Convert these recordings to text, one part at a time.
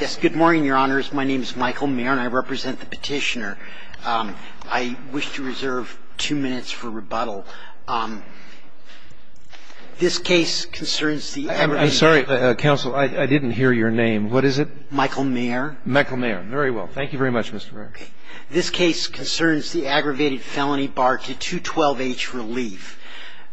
Yes, good morning, Your Honors. My name is Michael Maher and I represent the petitioner. I wish to reserve two minutes for rebuttal. This case concerns the I'm sorry, Counsel, I didn't hear your name. What is it? Michael Maher. Michael Maher. Very well. Thank you very much, Mr. Maher. This case concerns the aggravated felony bar to 212H relief.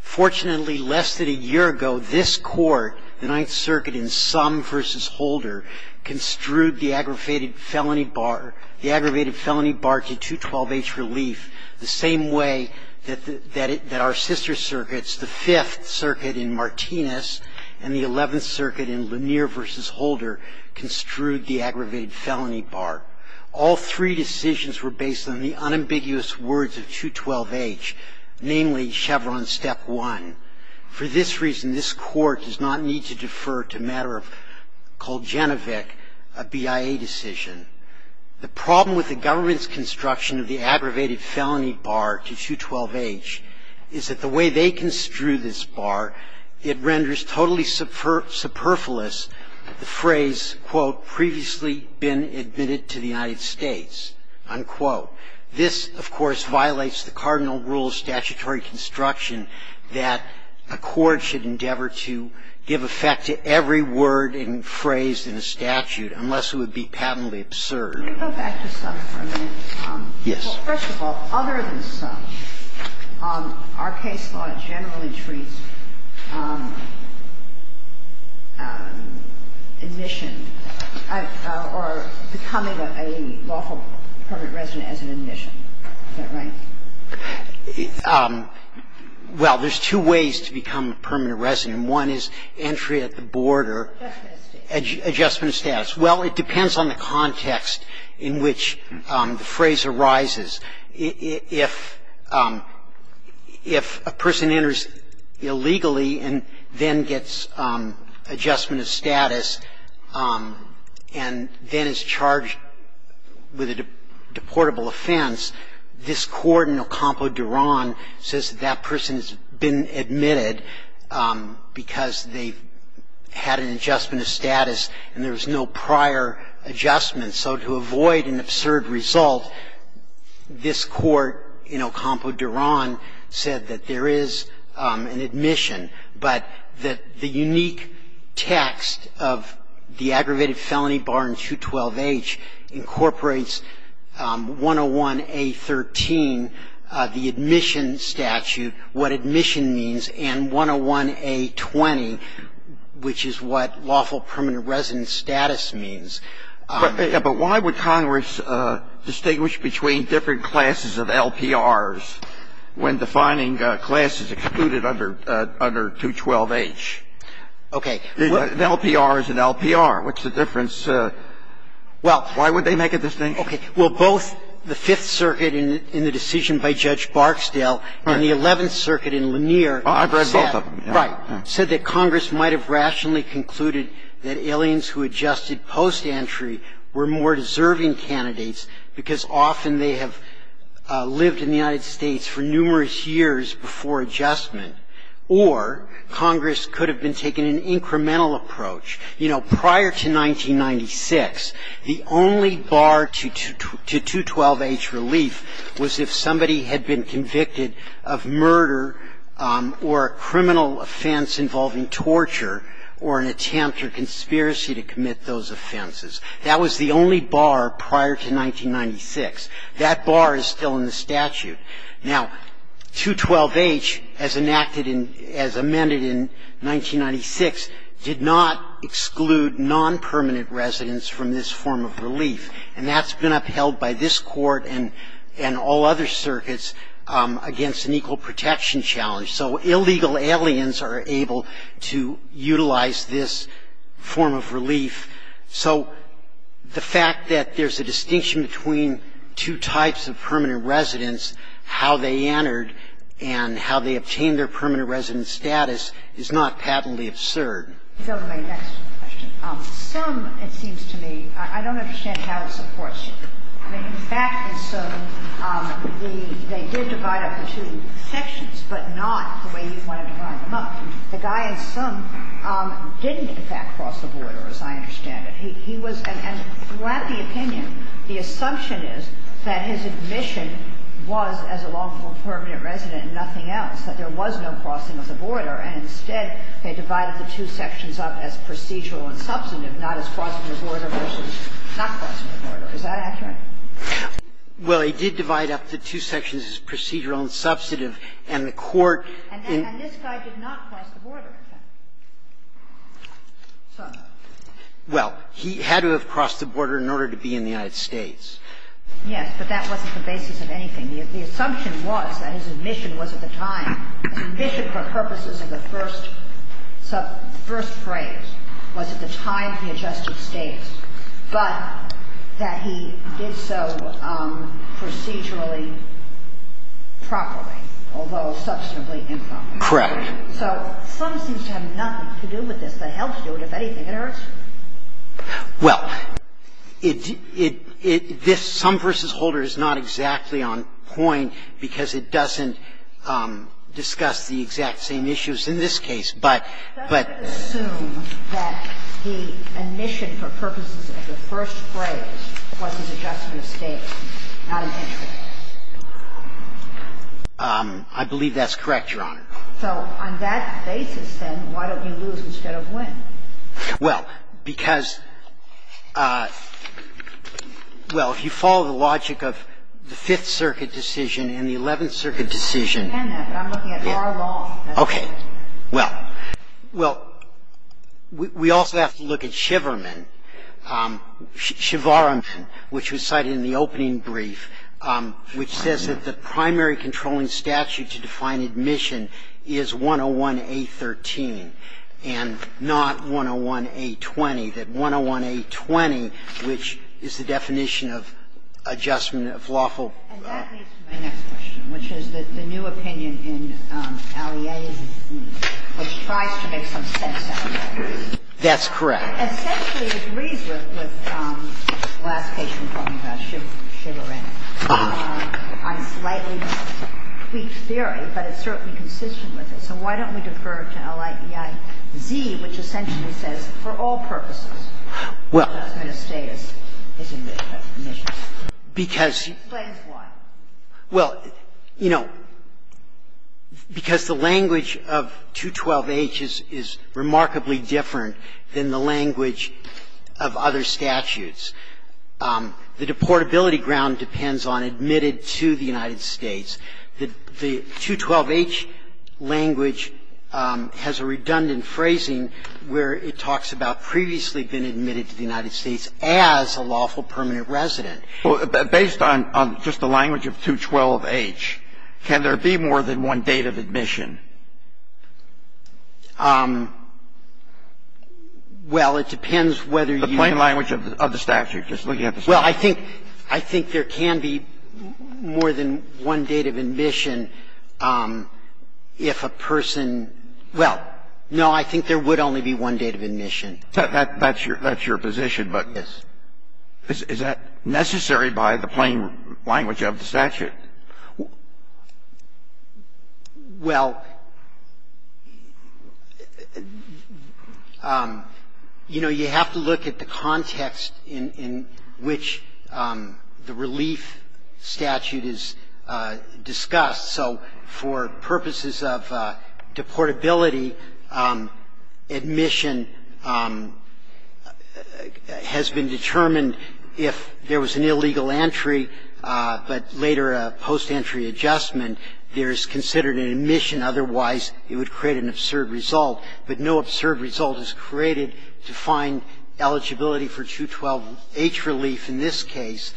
Fortunately, less than a year ago, this Court, the Ninth Circuit in Sum v. Holder, construed the aggravated felony bar to 212H relief the same way that our sister circuits, the Fifth Circuit in Martinez and the Eleventh Circuit in Lanier v. Holder, construed the aggravated felony bar. All three decisions were based on the unambiguous words of 212H, namely Chevron Step 1. For this reason, this Court does not need to defer to a matter called Genevic, a BIA decision. The problem with the government's construction of the aggravated felony bar to 212H is that the way they construe this bar, it renders totally superfluous the phrase, quote, previously been admitted to the United States, unquote. This, of course, violates the cardinal rule of statutory construction that a court should endeavor to give effect to every word and phrase in a statute, unless it would be patently absurd. Sotomayor, could you go back to Sum for a minute? Yes. First of all, other than Sum, our case law generally treats admission or becoming a lawful permanent resident as an admission. Is that right? Well, there's two ways to become a permanent resident. One is entry at the board or adjustment of status. Well, it depends on the context in which the phrase arises. If a person enters illegally and then gets adjustment of status and then is charged with a deportable offense, this Court in Ocampo-Duron says that that person has been admitted because they've had an adjustment of status and there was no prior adjustment. So to avoid an absurd result, this Court in Ocampo-Duron said that there is an admission. But the unique text of the aggravated felony bar in 212H incorporates 101A.13, the admission statute, what admission means, and 101A.20, which is what lawful permanent resident status means. But why would Congress distinguish between different classes of LPRs when defining classes excluded under 212H? Okay. An LPR is an LPR. What's the difference? Well, why would they make a distinction? Well, both the Fifth Circuit in the decision by Judge Barksdale and the Eleventh Circuit in Lanier said that Congress might have rationally concluded that aliens who adjusted post-entry were more deserving candidates because often they have lived in the United States for numerous years before adjustment, or Congress could have been taking an incremental approach. You know, prior to 1996, the only bar to 212H relief was if somebody had been convicted of murder or a criminal offense involving torture or an attempt or conspiracy to commit those offenses. That was the only bar prior to 1996. That bar is still in the statute. Now, 212H, as enacted in as amended in 1996, did not exclude nonpermanent residents from this form of relief, and that's been upheld by this Court and all other circuits against an equal protection challenge. So illegal aliens are able to utilize this form of relief. So the fact that there's a distinction between two types of permanent residents, how they entered, and how they obtained their permanent resident status is not patently absurd. Some, it seems to me, I don't understand how it supports you. In fact, in some, they did divide up the two sections, but not the way you want to divide them up. The guy in some didn't, in fact, cross the border, as I understand it. He was and throughout the opinion, the assumption is that his admission was, as a long-form permanent resident, nothing else, that there was no crossing of the border. And instead, they divided the two sections up as procedural and substantive, not as crossing the border versus not crossing the border. Is that accurate? Well, he did divide up the two sections as procedural and substantive, and the Court did not cross the border. And this guy did not cross the border, in fact. So. Well, he had to have crossed the border in order to be in the United States. Yes, but that wasn't the basis of anything. The assumption was that his admission was at the time, his admission for purposes of the first phrase was at the time he adjusted status, but that he did so procedurally, properly, although substantively improper. Correct. So sum seems to have nothing to do with this. The hell to do it. If anything, it hurts. Well, it, it, it, this sum versus holder is not exactly on point because it doesn't discuss the exact same issues in this case, but, but. It doesn't assume that the admission for purposes of the first phrase was his adjustment status, not intentionally. I believe that's correct, Your Honor. So on that basis, then, why don't we lose instead of win? Well, because, well, if you follow the logic of the Fifth Circuit decision and the Eleventh Circuit decision. I understand that, but I'm looking at our law. Okay. Well, well, we, we also have to look at Shiverman. Shiverman, which was cited in the opening brief, which says that the primary controlling statute to define admission is 101A13 and not 101A20, that 101A20, which is the definition of adjustment of lawful. And that leads to my next question, which is that the new opinion in Ali A is a C, which tries to make some sense out of that. That's correct. I essentially agree with the last case you were talking about, Shiverman. I'm slightly tweaked theory, but it's certainly consistent with it. So why don't we defer to LIEI Z, which essentially says, for all purposes, adjustment of status is admission. Well, because you know, because the language of 212H is remarkably different than the language of other statutes. The deportability ground depends on admitted to the United States. The 212H language has a redundant phrasing where it talks about previously been admitted to the United States as a lawful permanent resident. Based on just the language of 212H, can there be more than one date of admission? Well, it depends whether you can be more than one date of admission if a person – well, no, I think there would only be one date of admission. That's your position, but is that necessary by the plain language of the statute? Well, yes. Well, you know, you have to look at the context in which the relief statute is discussed. So for purposes of deportability, admission has been determined if there was an illegal entry, but later a post-entry adjustment, there is considered an admission. Otherwise, it would create an absurd result. But no absurd result is created to find eligibility for 212H relief in this case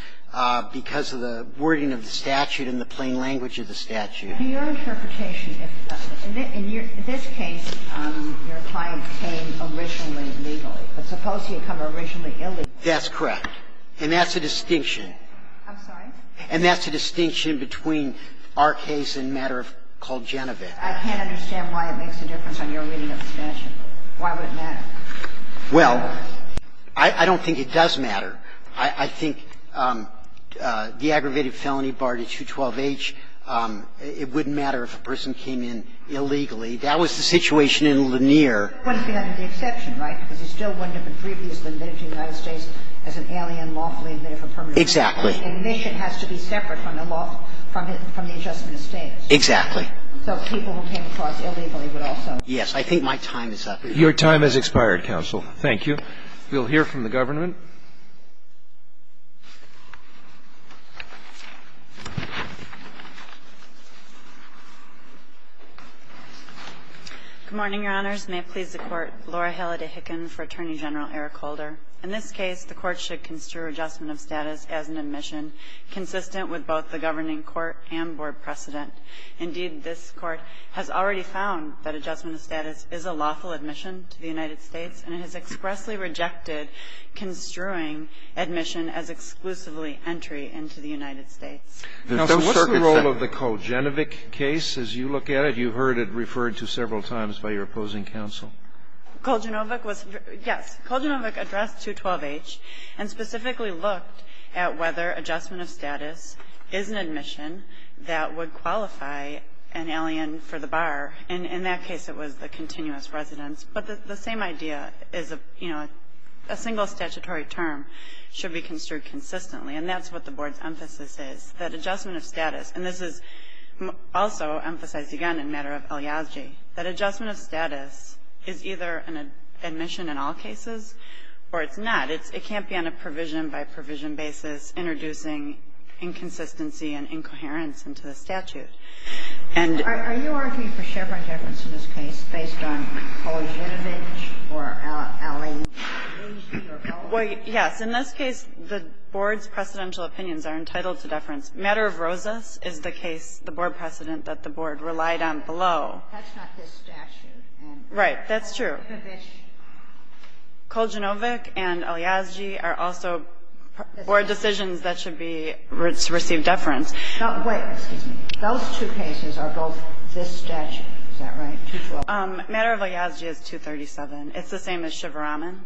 because of the wording of the statute and the plain language of the statute. In your interpretation, in this case, your client came originally legally. But suppose he had come originally illegally. That's correct. And that's a distinction. I'm sorry? And that's a distinction between our case and a matter called Genovit. I can't understand why it makes a difference on your reading of the statute. Why would it matter? Well, I don't think it does matter. I think the aggravated felony bar to 212H, it wouldn't matter if a person came in illegally. That was the situation in Lanier. It wouldn't be an exception, right? Because he still wouldn't have been previously admitted to the United States as an alien lawfully admitted for permanent residence. Exactly. Admission has to be separate from the law, from the adjustment of status. Exactly. So people who came across illegally would also. Yes. I think my time is up. Your time has expired, counsel. Thank you. We'll hear from the government. Good morning, Your Honors. May it please the Court. Laura Halliday Hicken for Attorney General Eric Holder. In this case, the Court should construe adjustment of status as an admission consistent with both the governing court and board precedent. Indeed, this Court has already found that adjustment of status is a lawful admission to the United States, and it has expressly rejected construing admission as exclusively entry into the United States. Counsel, what's the role of the Colgenovit case as you look at it? You heard it referred to several times by your opposing counsel. Colgenovit was yes. Colgenovit addressed 212H and specifically looked at whether adjustment of status is an admission that would qualify an alien for the bar. In that case, it was the continuous residence. But the same idea is a single statutory term should be construed consistently, and that's what the board's emphasis is, that adjustment of status. And this is also emphasized, again, in matter of elegy, that adjustment of status is either an admission in all cases or it's not. It can't be on a provision-by-provision basis introducing inconsistency and incoherence into the statute. Are you arguing for Chevron deference in this case based on Colgenovit or alien? Yes. In this case, the board's precedential opinions are entitled to deference. Matter of Rosas is the case, the board precedent that the board relied on below. That's not this statute. Right. That's true. Colgenovit and elegy are also board decisions that should be received deference. Wait. Those two cases are both this statute. Is that right? Matter of elegy is 237. It's the same as Chevron.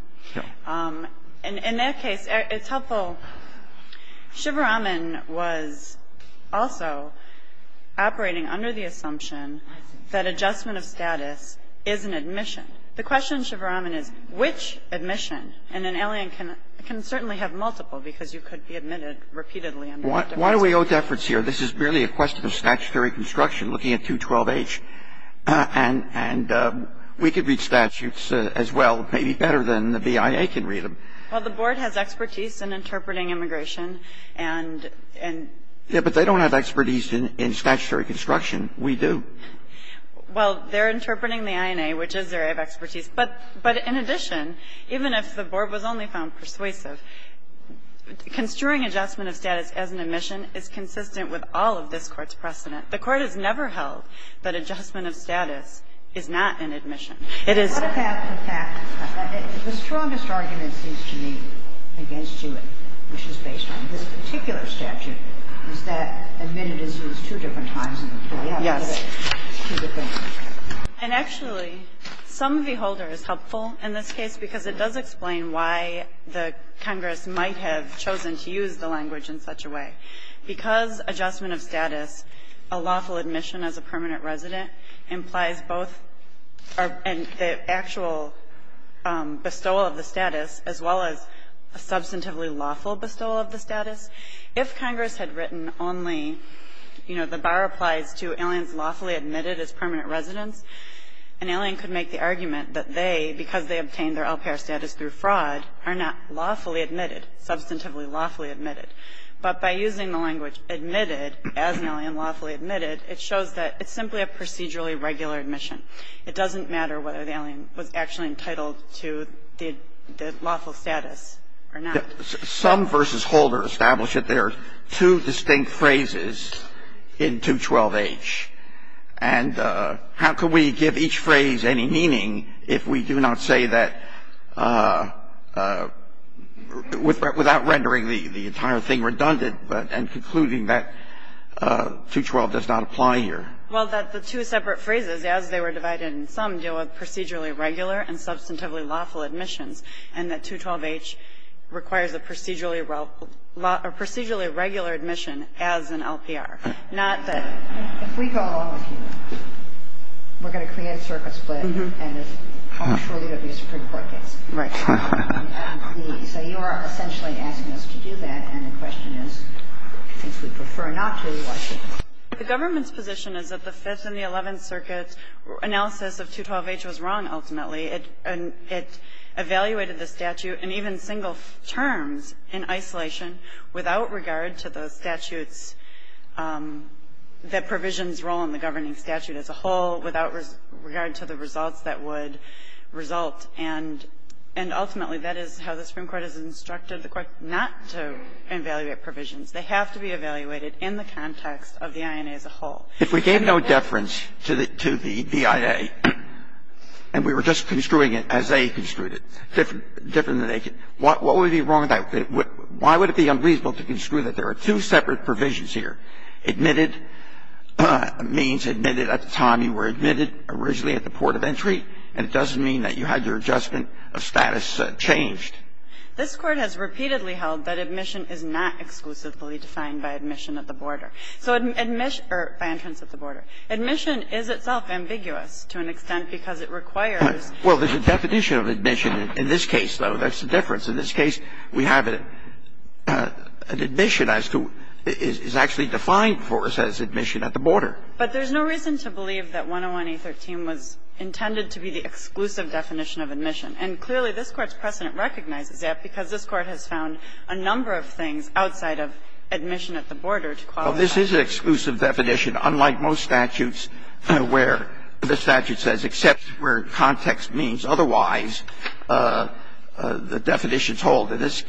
In that case, it's helpful. So Chevron was also operating under the assumption that adjustment of status is an admission. The question in Chevron is which admission? And an alien can certainly have multiple because you could be admitted repeatedly under that deference. Why do we owe deference here? This is merely a question of statutory construction, looking at 212H. And we could read statutes as well, maybe better than the BIA can read them. Well, the board has expertise in interpreting immigration. And they don't have expertise in statutory construction. We do. Well, they're interpreting the INA, which is their expertise. But in addition, even if the board was only found persuasive, construing adjustment of status as an admission is consistent with all of this Court's precedent. The Court has never held that adjustment of status is not an admission. It is. The strongest argument, it seems to me, against Hewitt, which is based on this particular statute, is that admitted is used two different times in the court. Yes. And actually, some of the older is helpful in this case because it does explain why the Congress might have chosen to use the language in such a way. Because adjustment of status, a lawful admission as a permanent resident, implies both the actual bestowal of the status as well as a substantively lawful bestowal of the status. If Congress had written only, you know, the bar applies to aliens lawfully admitted as permanent residents, an alien could make the argument that they, because they obtained their LPR status through fraud, are not lawfully admitted, substantively lawfully admitted. But by using the language admitted as an alien lawfully admitted, it shows that it's simply a procedurally regular admission. It doesn't matter whether the alien was actually entitled to the lawful status or not. Some versus Holder established that there are two distinct phrases in 212H. And how could we give each phrase any meaning if we do not say that without rendering the entire thing redundant and concluding that 212 does not apply here? Well, that the two separate phrases, as they were divided in sum, deal with procedurally regular and substantively lawful admissions, and that 212H requires a procedurally regular admission as an LPR. Not that we go along with you, we're going to create a circuit split, and I'm sure you're going to be a Supreme Court case. Right. So you are essentially asking us to do that, and the question is, if we prefer not to, why should we? The government's position is that the Fifth and the Eleventh Circuit's analysis of 212H was wrong, ultimately. It evaluated the statute in even single terms in isolation without regard to the statutes that provisions role in the governing statute as a whole, without regard to the results that would result, and ultimately that is how the Supreme Court has instructed the Court not to evaluate provisions. They have to be evaluated in the context of the INA as a whole. If we gave no deference to the BIA and we were just construing it as they construed it, different than they could, what would be wrong with that? Why would it be unreasonable to construe that there are two separate provisions here? Admitted means admitted at the time you were admitted, originally at the port of entry, and it doesn't mean that you had your adjustment of status changed. This Court has repeatedly held that admission is not exclusively defined by admission at the border. So admission or by entrance at the border. Admission is itself ambiguous to an extent because it requires. Well, there's a definition of admission in this case, though. That's the difference. In this case, we have an admission as to – is actually defined for us as admission at the border. But there's no reason to believe that 101A13 was intended to be the exclusive definition of admission. And clearly this Court's precedent recognizes that because this Court has found a number of things outside of admission at the border to qualify. Well, this is an exclusive definition, unlike most statutes where the statute says except where context means otherwise, the definitions hold. In this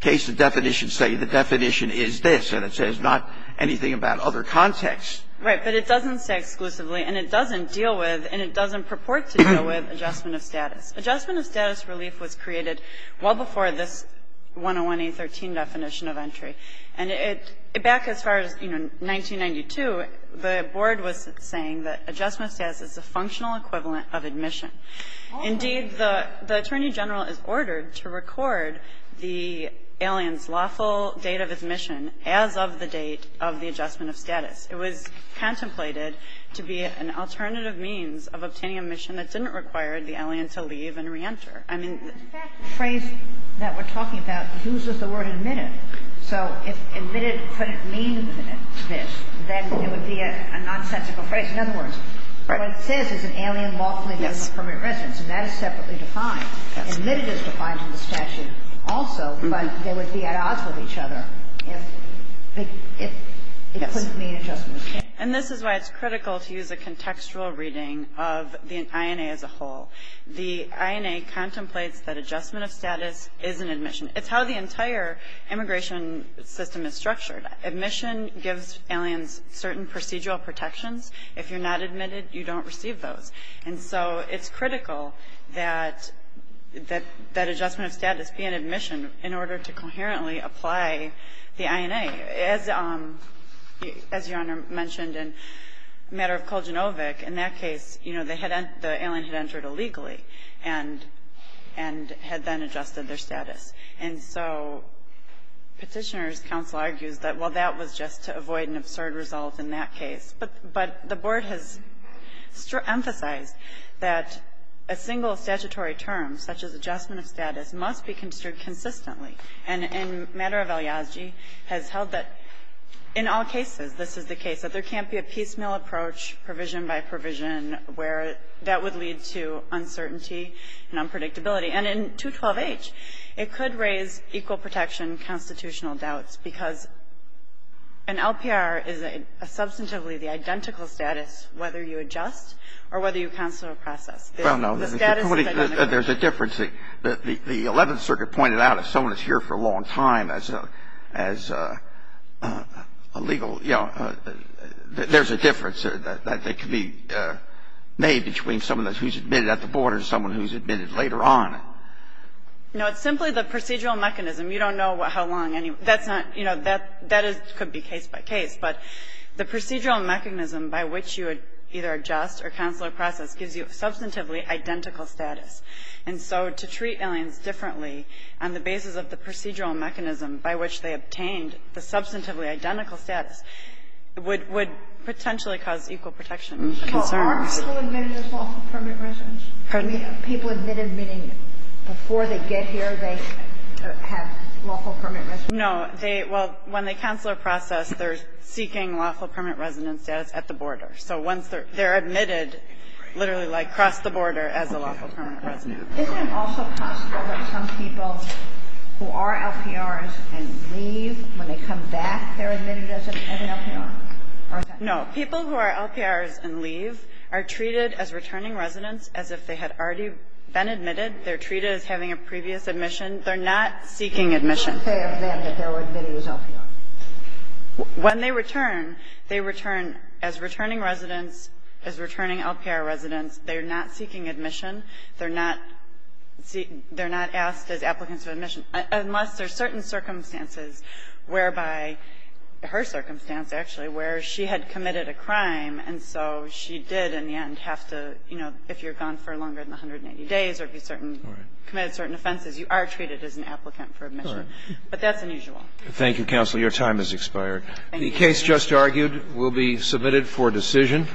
case, the definitions say the definition is this, and it says not anything about other contexts. Right. But it doesn't say exclusively, and it doesn't deal with and it doesn't purport to deal with adjustment of status. Adjustment of status relief was created well before this 101A13 definition of entry. And it – back as far as, you know, 1992, the Board was saying that adjustment of status is a functional equivalent of admission. Indeed, the Attorney General is ordered to record the alien's lawful date of admission as of the date of the adjustment of status. It was contemplated to be an alternative means of obtaining a mission that didn't require the alien to leave and reenter. I mean the – But that phrase that we're talking about uses the word admitted. So if admitted couldn't mean this, then it would be a nonsensical phrase. In other words, what it says is an alien lawfully moved from permanent residence, and that is separately defined. Admitted is defined in the statute also, but they would be at odds with each other if it couldn't mean adjustment of status. And this is why it's critical to use a contextual reading of the INA as a whole. The INA contemplates that adjustment of status is an admission. It's how the entire immigration system is structured. Admission gives aliens certain procedural protections. If you're not admitted, you don't receive those. And so it's critical that adjustment of status be an admission in order to coherently apply the INA. As Your Honor mentioned in the matter of Kuljinovic, in that case, you know, the alien had entered illegally and had then adjusted their status. And so Petitioner's counsel argues that, well, that was just to avoid an absurd result in that case. But the Board has emphasized that a single statutory term, such as adjustment of status, must be construed consistently. And in the matter of Eliasgi, has held that in all cases, this is the case, that there can't be a piecemeal approach, provision by provision, where that would lead to uncertainty and unpredictability. And in 212H, it could raise equal protection constitutional doubts because an LPR is a substantively the identical status whether you adjust or whether you cancel a process. The status is identical. Well, no. There's a difference. The Eleventh Circuit pointed out if someone is here for a long time as a legal you know, there's a difference that can be made between someone who's admitted at the Board or someone who's admitted later on. No. It's simply the procedural mechanism. You don't know how long any of them are. That's not you know, that could be case by case. But the procedural mechanism by which you would either adjust or cancel a process gives you a substantively identical status. And so to treat aliens differently on the basis of the procedural mechanism by which they obtained the substantively identical status would potentially cause equal protection concerns. Well, aren't people admitted as lawful permit residents? Pardon me? Are people admitted meaning before they get here, they have lawful permit residence? No. Well, when they cancel a process, they're seeking lawful permanent residence status at the border. So once they're admitted, literally like cross the border as a lawful permanent resident. Isn't it also possible that some people who are LPRs and leave, when they come back they're admitted as an LPR? No. People who are LPRs and leave are treated as returning residents as if they had already been admitted. They're treated as having a previous admission. They're not seeking admission. What would you say of them if they were admitted as LPRs? When they return, they return as returning residents, as returning LPR residents. They're not seeking admission. They're not asked as applicants of admission, unless there are certain circumstances whereby her circumstance, actually, where she had committed a crime and so she did in the end have to, you know, if you're gone for longer than 180 days or if you committed certain offenses, you are treated as an applicant for admission. But that's unusual. Thank you, counsel. Your time has expired. The case just argued will be submitted for decision.